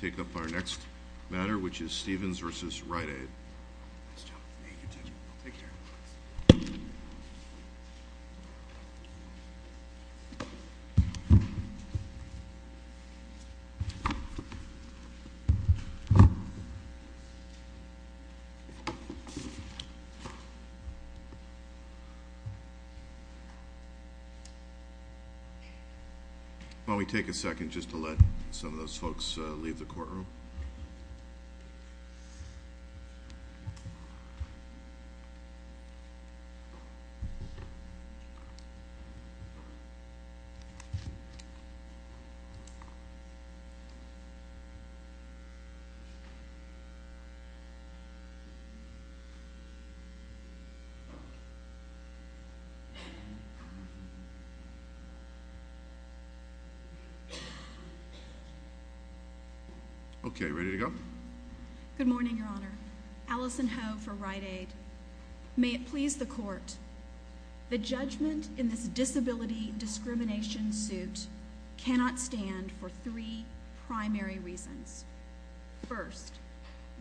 Taking up our next matter, which is Stevens v. Rite Aid. Nice job. Thank you. Take care. Why don't we take a second just to let some of those folks leave the courtroom. Thank you. Okay, ready to go? Good morning, Your Honor. Allison Ho for Rite Aid. May it please the court, the judgment in this disability discrimination suit cannot stand for three primary reasons. First,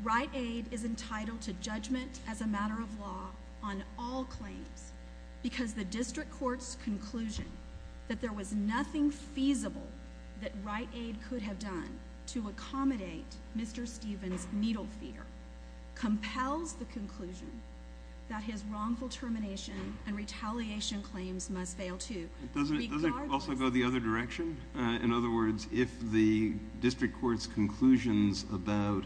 Rite Aid is entitled to judgment as a matter of law on all claims, because the district court's conclusion that there was nothing feasible that Rite Aid could have done to accommodate Mr. Stevens' needle fear compels the conclusion that his wrongful termination and retaliation claims must fail too. Doesn't it also go the other direction? In other words, if the district court's conclusions about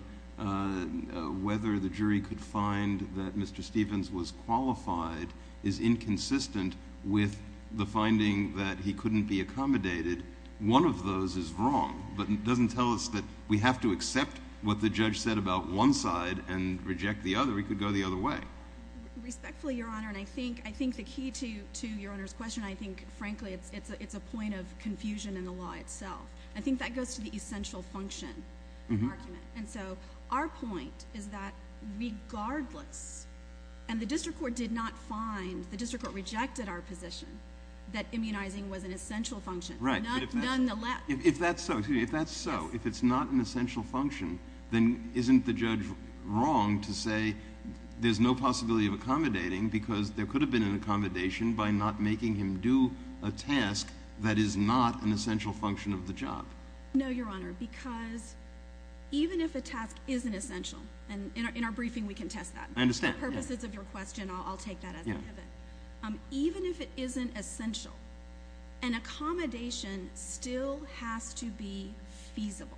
whether the jury could find that Mr. Stevens was qualified is inconsistent with the finding that he couldn't be accommodated, one of those is wrong. But it doesn't tell us that we have to accept what the judge said about one side and reject the other. It could go the other way. Respectfully, Your Honor, and I think the key to Your Honor's question, I think, frankly, it's a point of confusion in the law itself. I think that goes to the essential function argument. And so our point is that regardless, and the district court did not find, the district court rejected our position that immunizing was an essential function. If that's so, excuse me, if that's so, if it's not an essential function, then isn't the judge wrong to say there's no possibility of accommodating because there could have been an accommodation by not making him do a task that is not an essential function of the job? No, Your Honor, because even if a task isn't essential, and in our briefing we can test that. I understand. For the purposes of your question, I'll take that as a given. Even if it isn't essential, an accommodation still has to be feasible.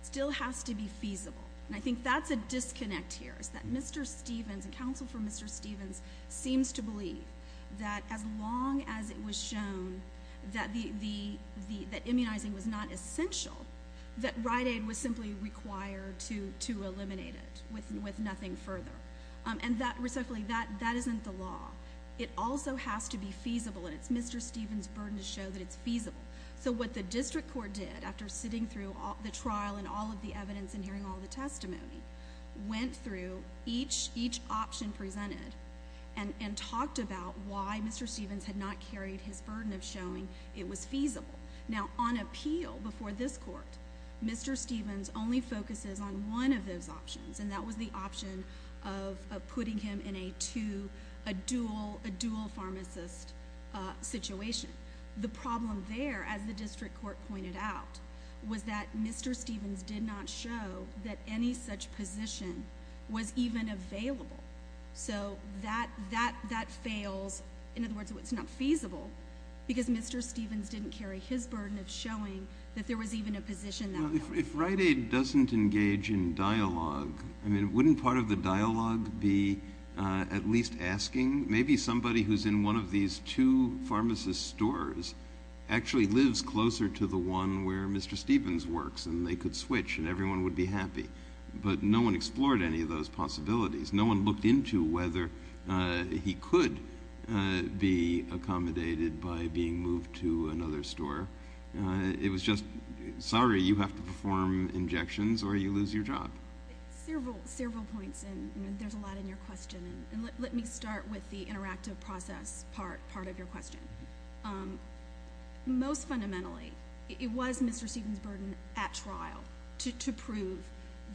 It still has to be feasible. And I think that's a disconnect here, is that Mr. Stevens, the counsel for Mr. Stevens, seems to believe that as long as it was shown that immunizing was not essential, that Rite Aid was simply required to eliminate it with nothing further. And that, respectfully, that isn't the law. It also has to be feasible, and it's Mr. Stevens' burden to show that it's feasible. So what the district court did, after sitting through the trial and all of the evidence and hearing all the testimony, went through each option presented and talked about why Mr. Stevens had not carried his burden of showing it was feasible. Now, on appeal before this court, Mr. Stevens only focuses on one of those options, and that was the option of putting him in a dual pharmacist situation. The problem there, as the district court pointed out, was that Mr. Stevens did not show that any such position was even available. So that fails. In other words, it's not feasible because Mr. Stevens didn't carry his burden of showing that there was even a position that was. If Rite Aid doesn't engage in dialogue, I mean, wouldn't part of the dialogue be at least asking? Maybe somebody who's in one of these two pharmacist stores actually lives closer to the one where Mr. Stevens works, and they could switch, and everyone would be happy. But no one explored any of those possibilities. No one looked into whether he could be accommodated by being moved to another store. It was just, sorry, you have to perform injections or you lose your job. Several points, and there's a lot in your question. And let me start with the interactive process part of your question. Most fundamentally, it was Mr. Stevens' burden at trial to prove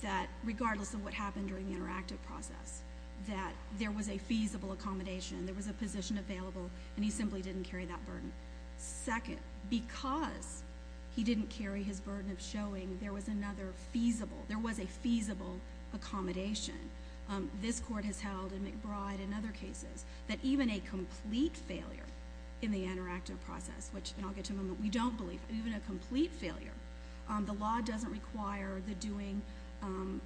that regardless of what happened during the interactive process, that there was a feasible accommodation, there was a position available, and he simply didn't carry that burden. Second, because he didn't carry his burden of showing there was another feasible, there was a feasible accommodation, this court has held in McBride and other cases that even a complete failure in the interactive process, which I'll get to in a moment, we don't believe, even a complete failure, the law doesn't require the doing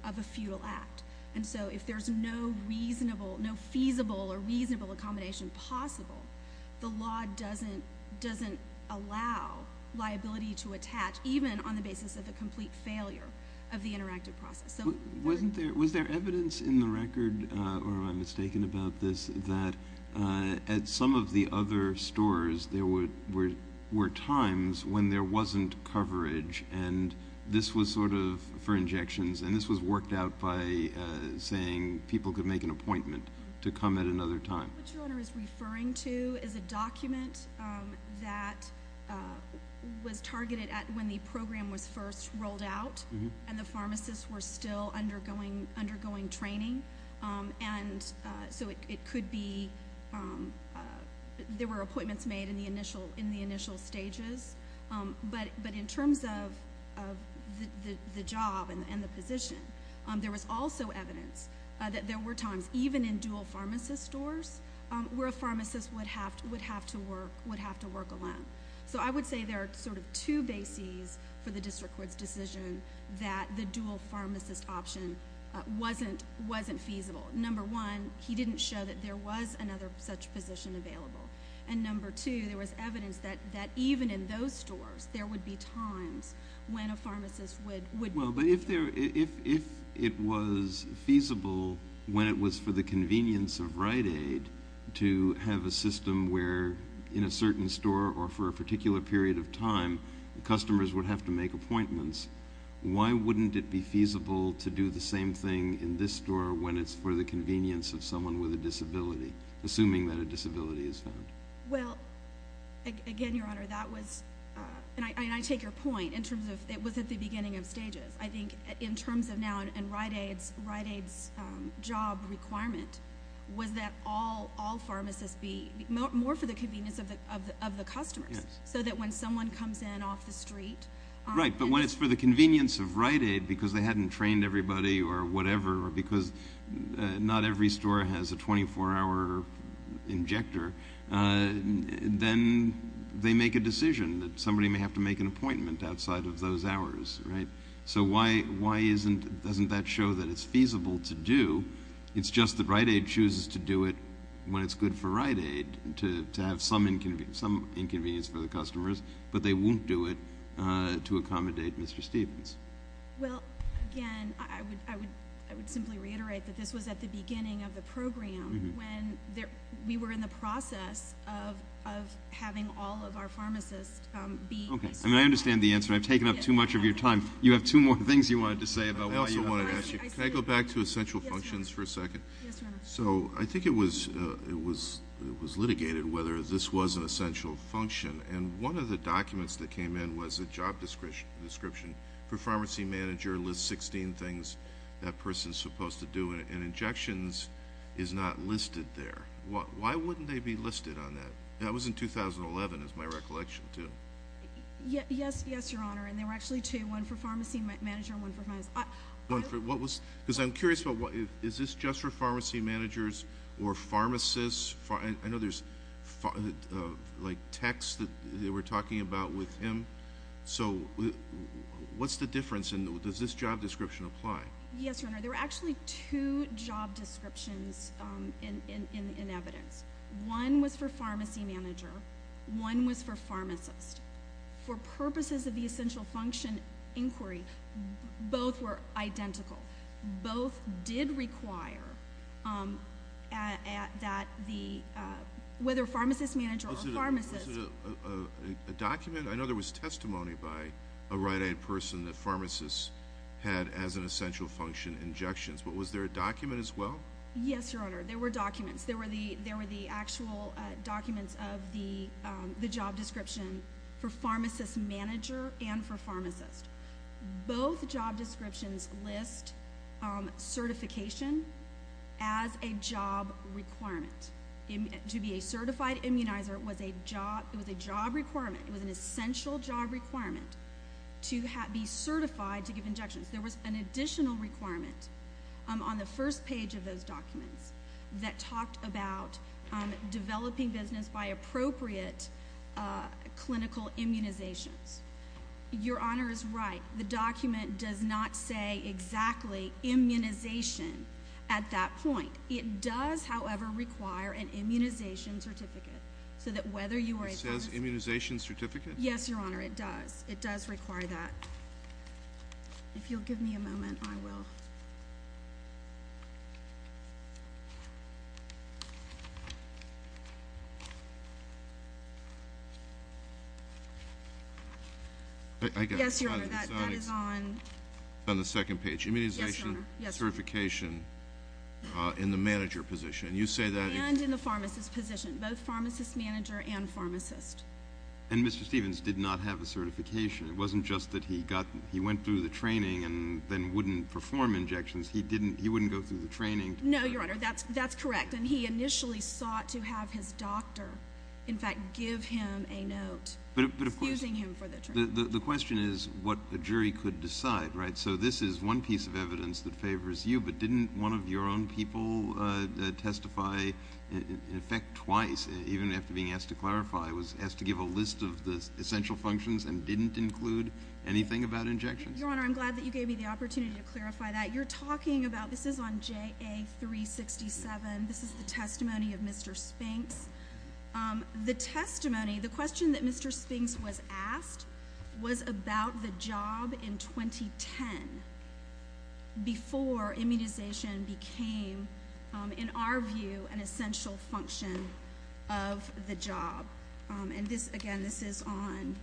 of a futile act. And so if there's no reasonable, no feasible or reasonable accommodation possible, the law doesn't allow liability to attach, even on the basis of a complete failure of the interactive process. Was there evidence in the record, or am I mistaken about this, that at some of the other stores there were times when there wasn't coverage and this was sort of for injections and this was worked out by saying people could make an appointment to come at another time? What your Honor is referring to is a document that was targeted at when the program was first rolled out and the pharmacists were still undergoing training, and so it could be, there were appointments made in the initial stages. But in terms of the job and the position, there was also evidence that there were times, even in dual pharmacist stores, where a pharmacist would have to work alone. So I would say there are sort of two bases for the District Court's decision that the dual pharmacist option wasn't feasible. Number one, he didn't show that there was another such position available. And number two, there was evidence that even in those stores, there would be times when a pharmacist would… Well, but if it was feasible when it was for the convenience of Rite Aid to have a system where in a certain store or for a particular period of time, customers would have to make appointments, why wouldn't it be feasible to do the same thing in this store when it's for the convenience of someone with a disability, assuming that a disability is found? Well, again, Your Honor, that was, and I take your point in terms of it was at the beginning of stages. I think in terms of now in Rite Aid's job requirement, was that all pharmacists be more for the convenience of the customers so that when someone comes in off the street… Right, but when it's for the convenience of Rite Aid because they hadn't trained everybody or whatever or because not every store has a 24-hour injector, then they make a decision that somebody may have to make an appointment outside of those hours, right? So why doesn't that show that it's feasible to do? It's just that Rite Aid chooses to do it when it's good for Rite Aid to have some inconvenience for the customers, but they won't do it to accommodate Mr. Stevens. Well, again, I would simply reiterate that this was at the beginning of the program when we were in the process of having all of our pharmacists be… Okay, and I understand the answer. I've taken up too much of your time. You have two more things you wanted to say about why you… I also wanted to ask you, can I go back to essential functions for a second? Yes, Your Honor. So I think it was litigated whether this was an essential function, and one of the documents that came in was a job description for pharmacy manager, lists 16 things that person is supposed to do, and injections is not listed there. Why wouldn't they be listed on that? That was in 2011 is my recollection, too. Yes, Your Honor, and there were actually two, one for pharmacy manager and one for pharmacist. Because I'm curious, is this just for pharmacy managers or pharmacists? I know there's, like, text that they were talking about with him. So what's the difference, and does this job description apply? Yes, Your Honor. There were actually two job descriptions in evidence. One was for pharmacy manager. One was for pharmacist. For purposes of the essential function inquiry, both were identical. Both did require that the, whether pharmacist manager or pharmacist. Was it a document? I know there was testimony by a right-hand person that pharmacists had as an essential function injections, but was there a document as well? Yes, Your Honor. There were documents. There were the actual documents of the job description for pharmacist manager and for pharmacist. Both job descriptions list certification as a job requirement. To be a certified immunizer was a job requirement. It was an essential job requirement to be certified to give injections. There was an additional requirement on the first page of those documents that talked about developing business by appropriate clinical immunizations. Your Honor is right. The document does not say exactly immunization at that point. It does, however, require an immunization certificate so that whether you are a pharmacist. It says immunization certificate? Yes, Your Honor. It does. It does require that. If you'll give me a moment, I will. Yes, Your Honor. That is on the second page. Immunization certification in the manager position. You say that. And in the pharmacist position, both pharmacist manager and pharmacist. And Mr. Stevens did not have a certification. It wasn't just that he went through the training and then wouldn't perform injections. He wouldn't go through the training. No, Your Honor. That's correct. And he initially sought to have his doctor, in fact, give him a note. But of course, the question is what a jury could decide, right? So this is one piece of evidence that favors you. But didn't one of your own people testify in effect twice, even after being asked to clarify, was asked to give a list of the essential functions and didn't include anything about injections? Your Honor, I'm glad that you gave me the opportunity to clarify that. You're talking about this is on JA367. This is the testimony of Mr. Spinks. The testimony, the question that Mr. Spinks was asked was about the job in 2010, before immunization became, in our view, an essential function of the job. And this, again, this is on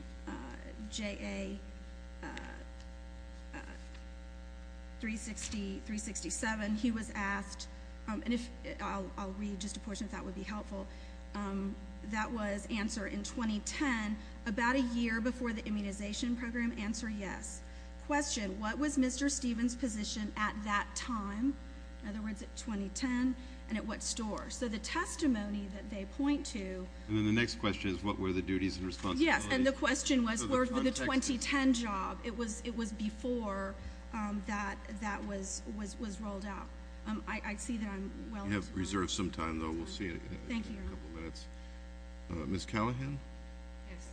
JA367. He was asked, and I'll read just a portion if that would be helpful. That was answered in 2010, about a year before the immunization program. Answer, yes. Question, what was Mr. Stevens' position at that time? In other words, at 2010. And at what store? So the testimony that they point to. And then the next question is what were the duties and responsibilities? Yes, and the question was for the 2010 job. It was before that was rolled out. I see that I'm well to go. You have reserved some time, though. We'll see it in a couple minutes. Thank you, Your Honor. Ms. Callahan? Yes.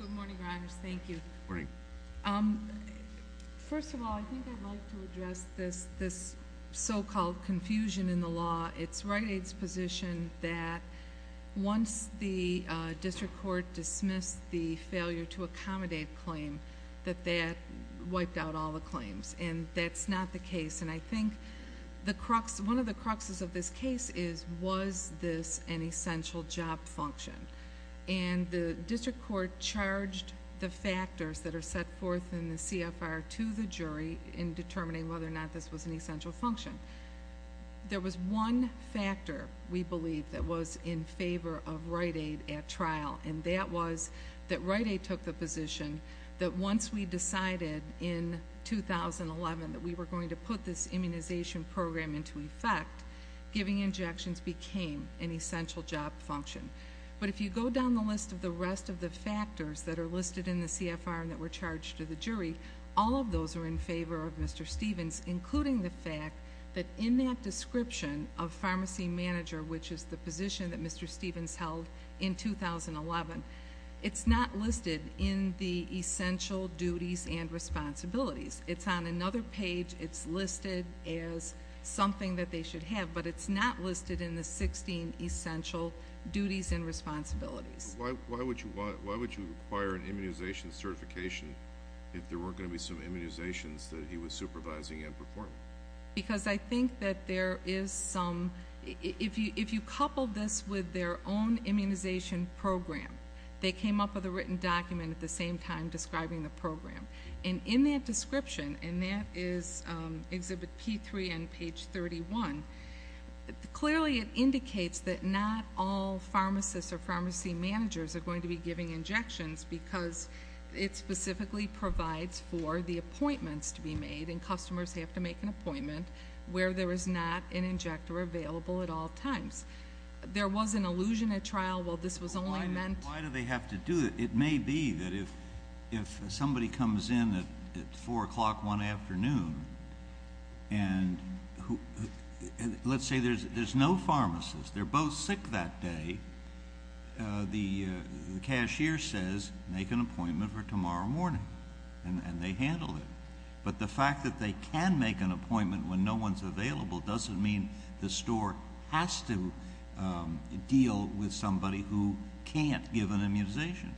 Good morning, Your Honors. Thank you. Good morning. First of all, I think I'd like to address this so-called confusion in the law. It's Rite Aid's position that once the district court dismissed the failure to accommodate claim, that that wiped out all the claims. And that's not the case. And I think one of the cruxes of this case is, was this an essential job function? And the district court charged the factors that are set forth in the CFR to the jury in determining whether or not this was an essential function. There was one factor, we believe, that was in favor of Rite Aid at trial, and that was that Rite Aid took the position that once we decided in 2011 that we were going to put this immunization program into effect, giving injections became an essential job function. But if you go down the list of the rest of the factors that are listed in the CFR and that were charged to the jury, all of those are in favor of Mr. Stevens, including the fact that in that description of pharmacy manager, which is the position that Mr. Stevens held in 2011, it's not listed in the essential duties and responsibilities. It's on another page. It's listed as something that they should have, but it's not listed in the 16 essential duties and responsibilities. Why would you require an immunization certification if there weren't going to be some immunizations that he was supervising and performing? Because I think that there is some, if you couple this with their own immunization program, they came up with a written document at the same time describing the program. And in that description, and that is Exhibit P3 on page 31, clearly it indicates that not all pharmacists or pharmacy managers are going to be giving injections because it specifically provides for the appointments to be made, and customers have to make an appointment where there is not an injector available at all times. There was an allusion at trial, well, this was only meant to be. Why do they have to do it? It may be that if somebody comes in at 4 o'clock one afternoon, and let's say there's no pharmacist, they're both sick that day, the cashier says, make an appointment for tomorrow morning. And they handle it. But the fact that they can make an appointment when no one's available doesn't mean the store has to deal with somebody who can't give an immunization.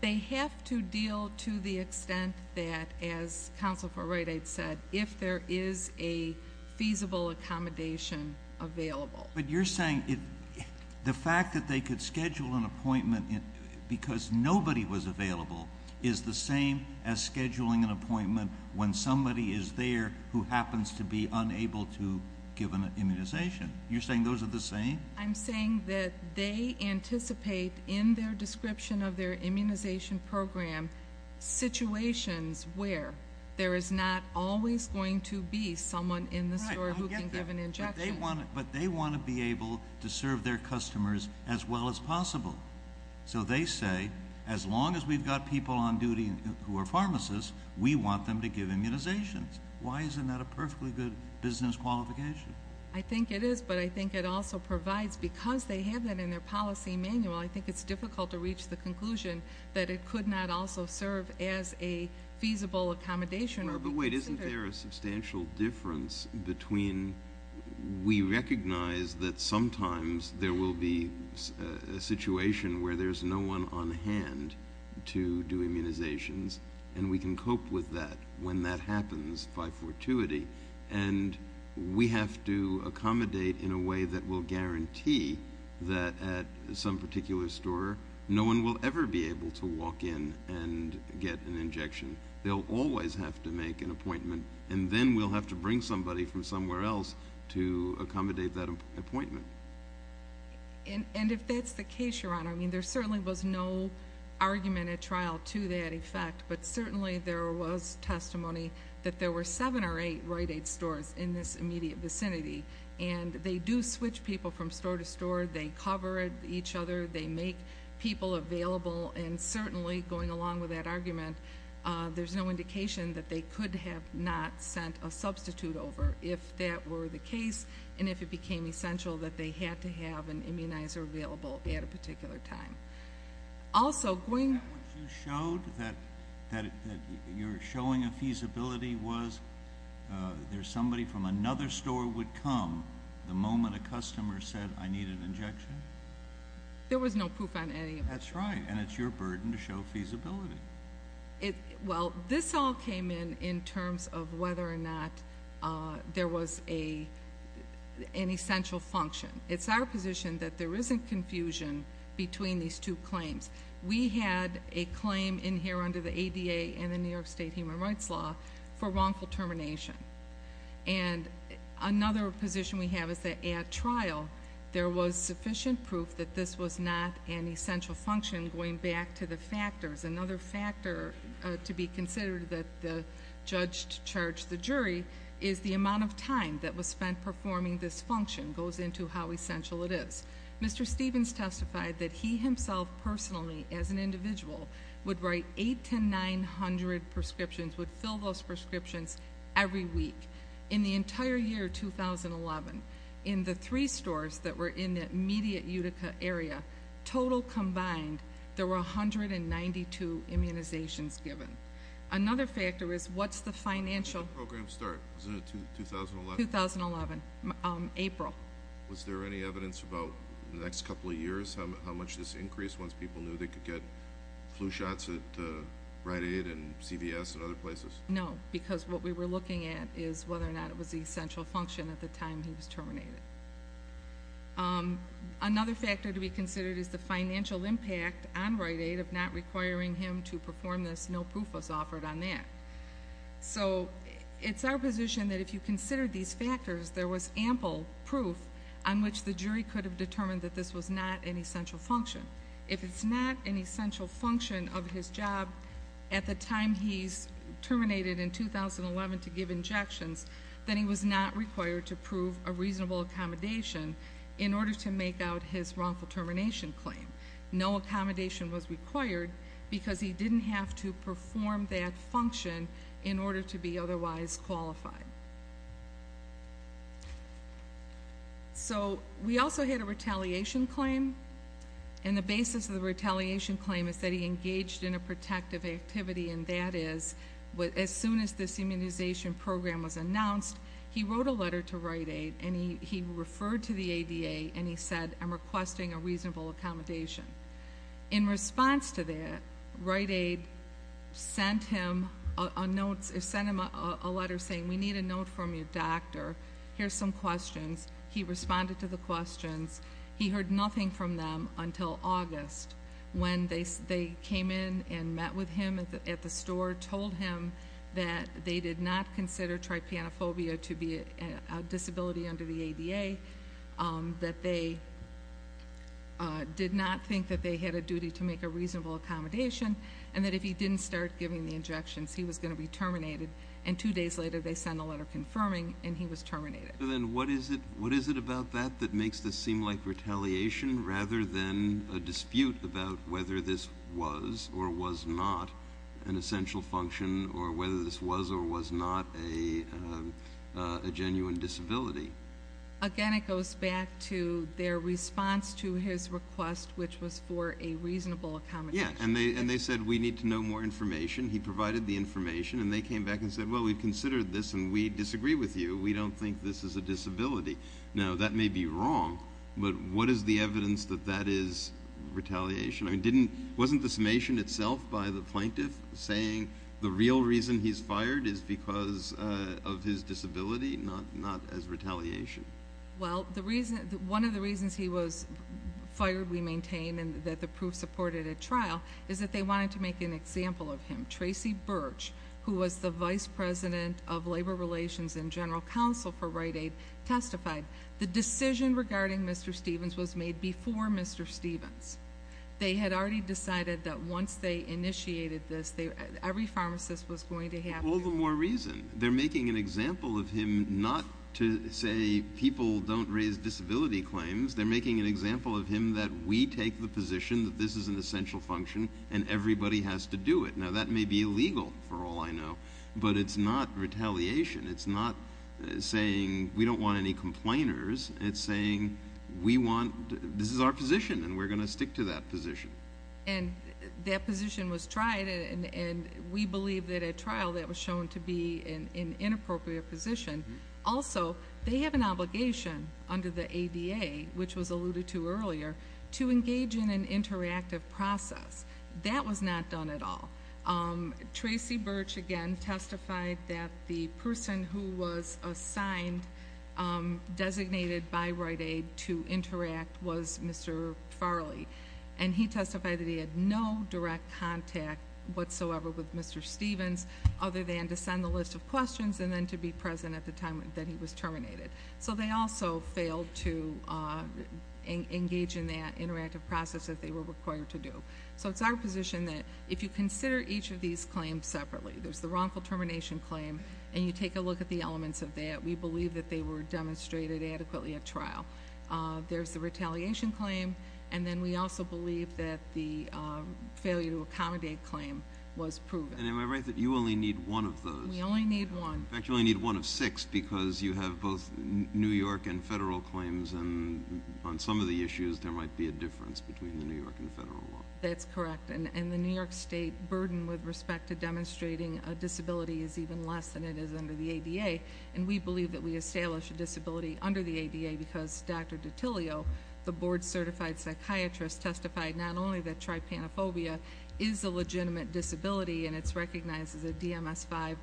They have to deal to the extent that, as Counsel for Right Aid said, if there is a feasible accommodation available. But you're saying the fact that they could schedule an appointment because nobody was available is the same as scheduling an appointment when somebody is there who happens to be unable to give an immunization. You're saying those are the same? I'm saying that they anticipate in their description of their immunization program situations where there is not always going to be someone in the store who can give an injection. But they want to be able to serve their customers as well as possible. So they say, as long as we've got people on duty who are pharmacists, we want them to give immunizations. Why isn't that a perfectly good business qualification? I think it is, but I think it also provides, because they have that in their policy manual, I think it's difficult to reach the conclusion that it could not also serve as a feasible accommodation. But wait, isn't there a substantial difference between we recognize that sometimes there will be a situation where there's no one on hand to do immunizations and we can cope with that when that happens by fortuity, and we have to accommodate in a way that will guarantee that at some particular store no one will ever be able to walk in and get an injection. They'll always have to make an appointment. And then we'll have to bring somebody from somewhere else to accommodate that appointment. And if that's the case, Your Honor, I mean, there certainly was no argument at trial to that effect, but certainly there was testimony that there were seven or eight Rite Aid stores in this immediate vicinity. And they do switch people from store to store. They cover each other. They make people available. And certainly, going along with that argument, there's no indication that they could have not sent a substitute over if that were the case and if it became essential that they had to have an immunizer available at a particular time. Also, going back to what you showed, that you're showing a feasibility was there's somebody from another store the moment a customer said, I need an injection? There was no proof on any of it. That's right. And it's your burden to show feasibility. Well, this all came in in terms of whether or not there was an essential function. It's our position that there isn't confusion between these two claims. We had a claim in here under the ADA and the New York State Human Rights Law for wrongful termination. And another position we have is that at trial, there was sufficient proof that this was not an essential function going back to the factors. Another factor to be considered that the judge charged the jury is the amount of time that was spent performing this function goes into how essential it is. Mr. Stevens testified that he himself personally, as an individual, would write 8 to 900 prescriptions, would fill those prescriptions every week. In the entire year 2011, in the three stores that were in the immediate Utica area, total combined, there were 192 immunizations given. Another factor is what's the financial- When did the program start? Was it in 2011? 2011, April. Was there any evidence about the next couple of years, how much this increased once people knew they could get flu shots at Rite Aid and CVS and other places? No, because what we were looking at is whether or not it was an essential function at the time he was terminated. Another factor to be considered is the financial impact on Rite Aid of not requiring him to perform this. No proof was offered on that. So it's our position that if you consider these factors, there was ample proof on which the jury could have determined that this was not an essential function. If it's not an essential function of his job at the time he's terminated in 2011 to give injections, then he was not required to prove a reasonable accommodation in order to make out his wrongful termination claim. No accommodation was required because he didn't have to perform that function in order to be otherwise qualified. So we also had a retaliation claim, and the basis of the retaliation claim is that he engaged in a protective activity, and that is as soon as this immunization program was announced, he wrote a letter to Rite Aid, and he referred to the ADA, and he said, I'm requesting a reasonable accommodation. In response to that, Rite Aid sent him a letter saying, we need a note from your doctor. Here's some questions. He responded to the questions. He heard nothing from them until August when they came in and met with him at the store, told him that they did not consider trypanophobia to be a disability under the ADA, that they did not think that they had a duty to make a reasonable accommodation, and that if he didn't start giving the injections, he was going to be terminated, and two days later they sent a letter confirming, and he was terminated. Then what is it about that that makes this seem like retaliation rather than a dispute about whether this was or was not an essential function or whether this was or was not a genuine disability? Again, it goes back to their response to his request, which was for a reasonable accommodation. Yes, and they said, we need to know more information. He provided the information, and they came back and said, well, we've considered this, and we disagree with you. We don't think this is a disability. Now, that may be wrong, but what is the evidence that that is retaliation? Wasn't the summation itself by the plaintiff saying the real reason he's fired is because of his disability, not as retaliation? Well, one of the reasons he was fired, we maintain, and that the proof supported at trial, is that they wanted to make an example of him. Tracy Birch, who was the Vice President of Labor Relations and General Counsel for Rite Aid, testified. The decision regarding Mr. Stevens was made before Mr. Stevens. They had already decided that once they initiated this, every pharmacist was going to have to do it. All the more reason. They're making an example of him not to say people don't raise disability claims. They're making an example of him that we take the position that this is an essential function, and everybody has to do it. Now, that may be illegal for all I know, but it's not retaliation. It's not saying we don't want any complainers. It's saying this is our position, and we're going to stick to that position. And that position was tried, and we believe that at trial that was shown to be an inappropriate position. Also, they have an obligation under the ADA, which was alluded to earlier, to engage in an interactive process. That was not done at all. Tracy Birch, again, testified that the person who was assigned, designated by Rite Aid, to interact was Mr. Farley. And he testified that he had no direct contact whatsoever with Mr. Stevens, other than to send the list of questions and then to be present at the time that he was terminated. So they also failed to engage in that interactive process that they were required to do. So it's our position that if you consider each of these claims separately, there's the wrongful termination claim, and you take a look at the elements of that, we believe that they were demonstrated adequately at trial. There's the retaliation claim, and then we also believe that the failure to accommodate claim was proven. And am I right that you only need one of those? We only need one. In fact, you only need one of six because you have both New York and federal claims, and on some of the issues there might be a difference between the New York and federal law. That's correct. And the New York State burden with respect to demonstrating a disability is even less than it is under the ADA, and we believe that we establish a disability under the ADA because Dr. Dottilio, the board-certified psychiatrist, testified not only that trypanophobia is a legitimate disability and it's recognized as a DMS-5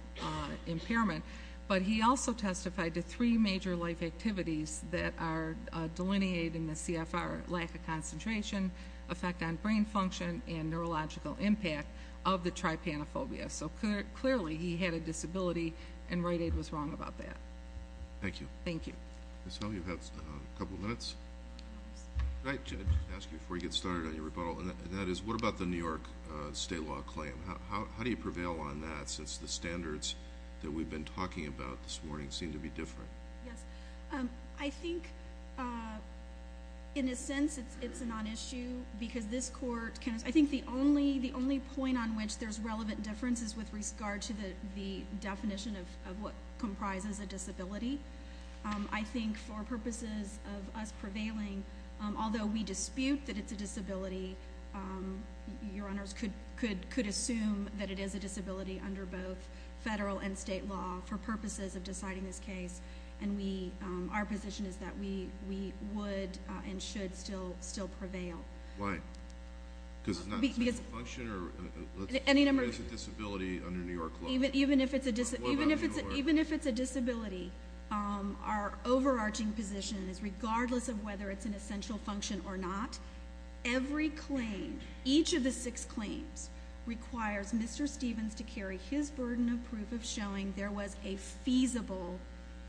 impairment, but he also testified to three major life activities that are delineating the CFR, lack of concentration, effect on brain function, and neurological impact of the trypanophobia. So clearly he had a disability, and Rite Aid was wrong about that. Thank you. Thank you. Ms. Hill, you've had a couple of minutes. Can I ask you before you get started on your rebuttal, and that is what about the New York state law claim? How do you prevail on that since the standards that we've been talking about this morning seem to be different? Yes. I think, in a sense, it's a non-issue because this court can, I think, the only point on which there's relevant difference is with regard to the definition of what comprises a disability. I think for purposes of us prevailing, although we dispute that it's a disability, your honors could assume that it is a disability under both federal and state law for purposes of deciding this case, and our position is that we would and should still prevail. Why? Because it's not an essential function or it's a disability under New York law? Even if it's a disability, our overarching position is regardless of whether it's an essential function or not, every claim, each of the six claims, requires Mr. Stevens to carry his burden of proof of showing there was a feasible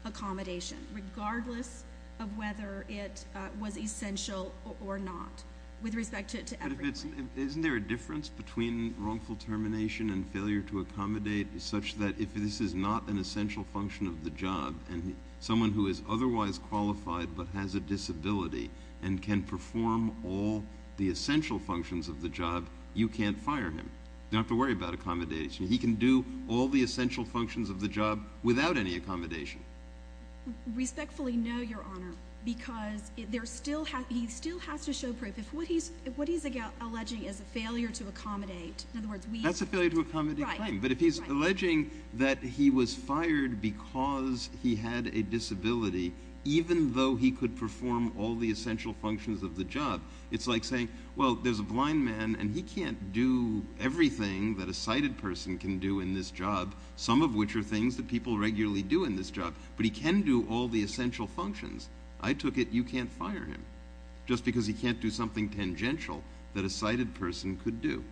accommodation, regardless of whether it was essential or not with respect to everyone. Isn't there a difference between wrongful termination and failure to accommodate such that if this is not an essential function of the job and someone who is otherwise qualified but has a disability and can perform all the essential functions of the job, you can't fire him? You don't have to worry about accommodation. He can do all the essential functions of the job without any accommodation. Respectfully, no, your honor, because he still has to show proof. What he's alleging is a failure to accommodate. That's a failure to accommodate claim. But if he's alleging that he was fired because he had a disability even though he could perform all the essential functions of the job, it's like saying, well, there's a blind man and he can't do everything that a sighted person can do in this job, some of which are things that people regularly do in this job, but he can do all the essential functions. I took it you can't fire him just because he can't do something tangential that a sighted person could do.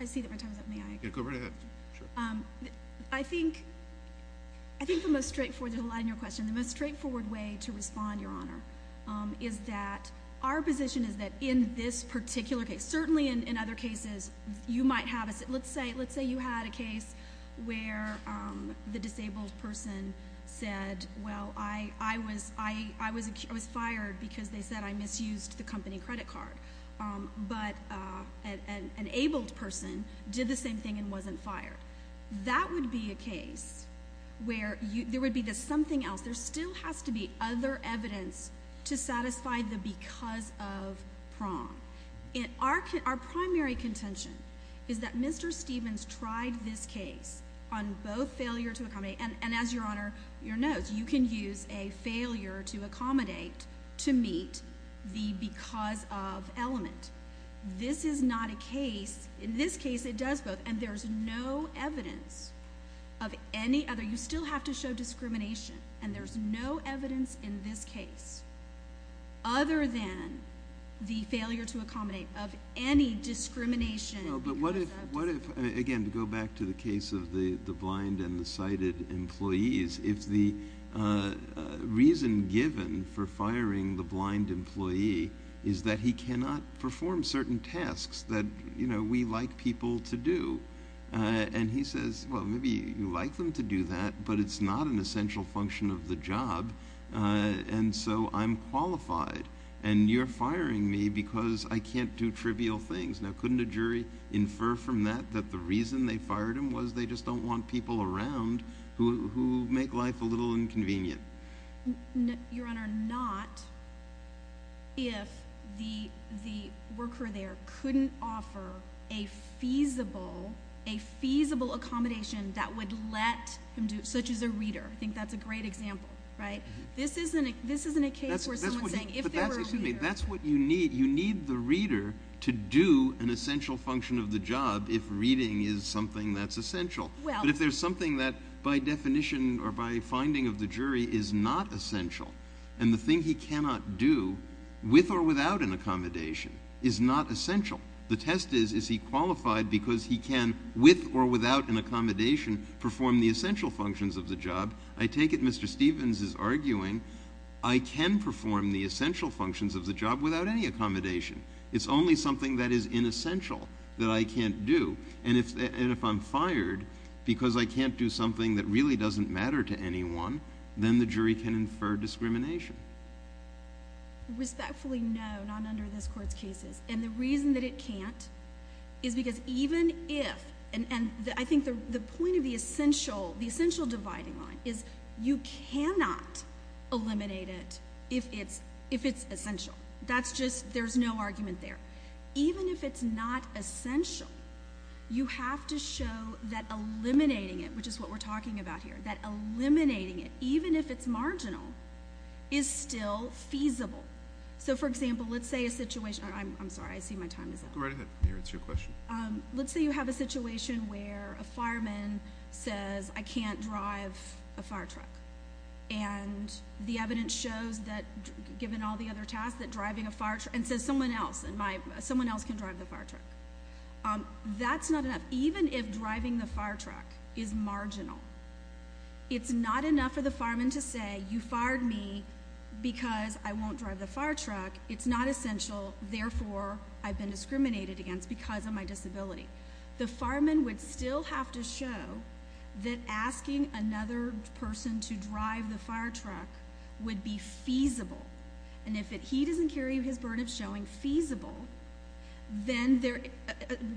I see that my time is up. May I? Go right ahead. I think the most straightforward way to respond, your honor, is that our position is that in this particular case, certainly in other cases, you might have let's say you had a case where the disabled person said, well, I was fired because they said I misused the company credit card. But an abled person did the same thing and wasn't fired. That would be a case where there would be something else. There still has to be other evidence to satisfy the because of prong. Our primary contention is that Mr. Stevens tried this case on both failure to accommodate, this is not a case, in this case it does both, and there's no evidence of any other. You still have to show discrimination, and there's no evidence in this case other than the failure to accommodate of any discrimination. No, but what if, again, to go back to the case of the blind and the sighted employees, if the reason given for firing the blind employee is that he cannot perform certain tasks that we like people to do, and he says, well, maybe you like them to do that, but it's not an essential function of the job, and so I'm qualified, and you're firing me because I can't do trivial things. Now, couldn't a jury infer from that that the reason they fired him was they just don't want people around who make life a little inconvenient? Your Honor, not if the worker there couldn't offer a feasible accommodation that would let him do it, such as a reader. I think that's a great example. This isn't a case where someone's saying if there were a reader. But that's what you need. You need the reader to do an essential function of the job if reading is something that's essential. But if there's something that, by definition or by finding of the jury, is not essential and the thing he cannot do with or without an accommodation is not essential, the test is is he qualified because he can, with or without an accommodation, perform the essential functions of the job. I take it Mr. Stevens is arguing I can perform the essential functions of the job without any accommodation. It's only something that is inessential that I can't do. And if I'm fired because I can't do something that really doesn't matter to anyone, then the jury can infer discrimination. Respectfully, no, not under this Court's cases. And the reason that it can't is because even if, and I think the point of the essential dividing line is you cannot eliminate it if it's essential. That's just, there's no argument there. Even if it's not essential, you have to show that eliminating it, which is what we're talking about here, that eliminating it, even if it's marginal, is still feasible. So, for example, let's say a situation, I'm sorry, I see my time is up. Go right ahead, it's your question. Let's say you have a situation where a fireman says, I can't drive a fire truck. And the evidence shows that, given all the other tasks, that driving a fire truck, and says someone else, someone else can drive the fire truck. That's not enough. Even if driving the fire truck is marginal, it's not enough for the fireman to say, you fired me because I won't drive the fire truck. It's not essential. Therefore, I've been discriminated against because of my disability. The fireman would still have to show that asking another person to drive the fire truck would be feasible. And if he doesn't carry his burden of showing feasible, then they're,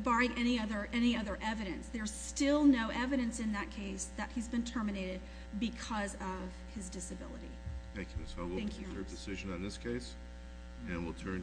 barring any other evidence, there's still no evidence in that case that he's been terminated because of his disability. Thank you, Ms. Hogan. Thank you. We'll move to a decision on this case, and we'll turn to a vote.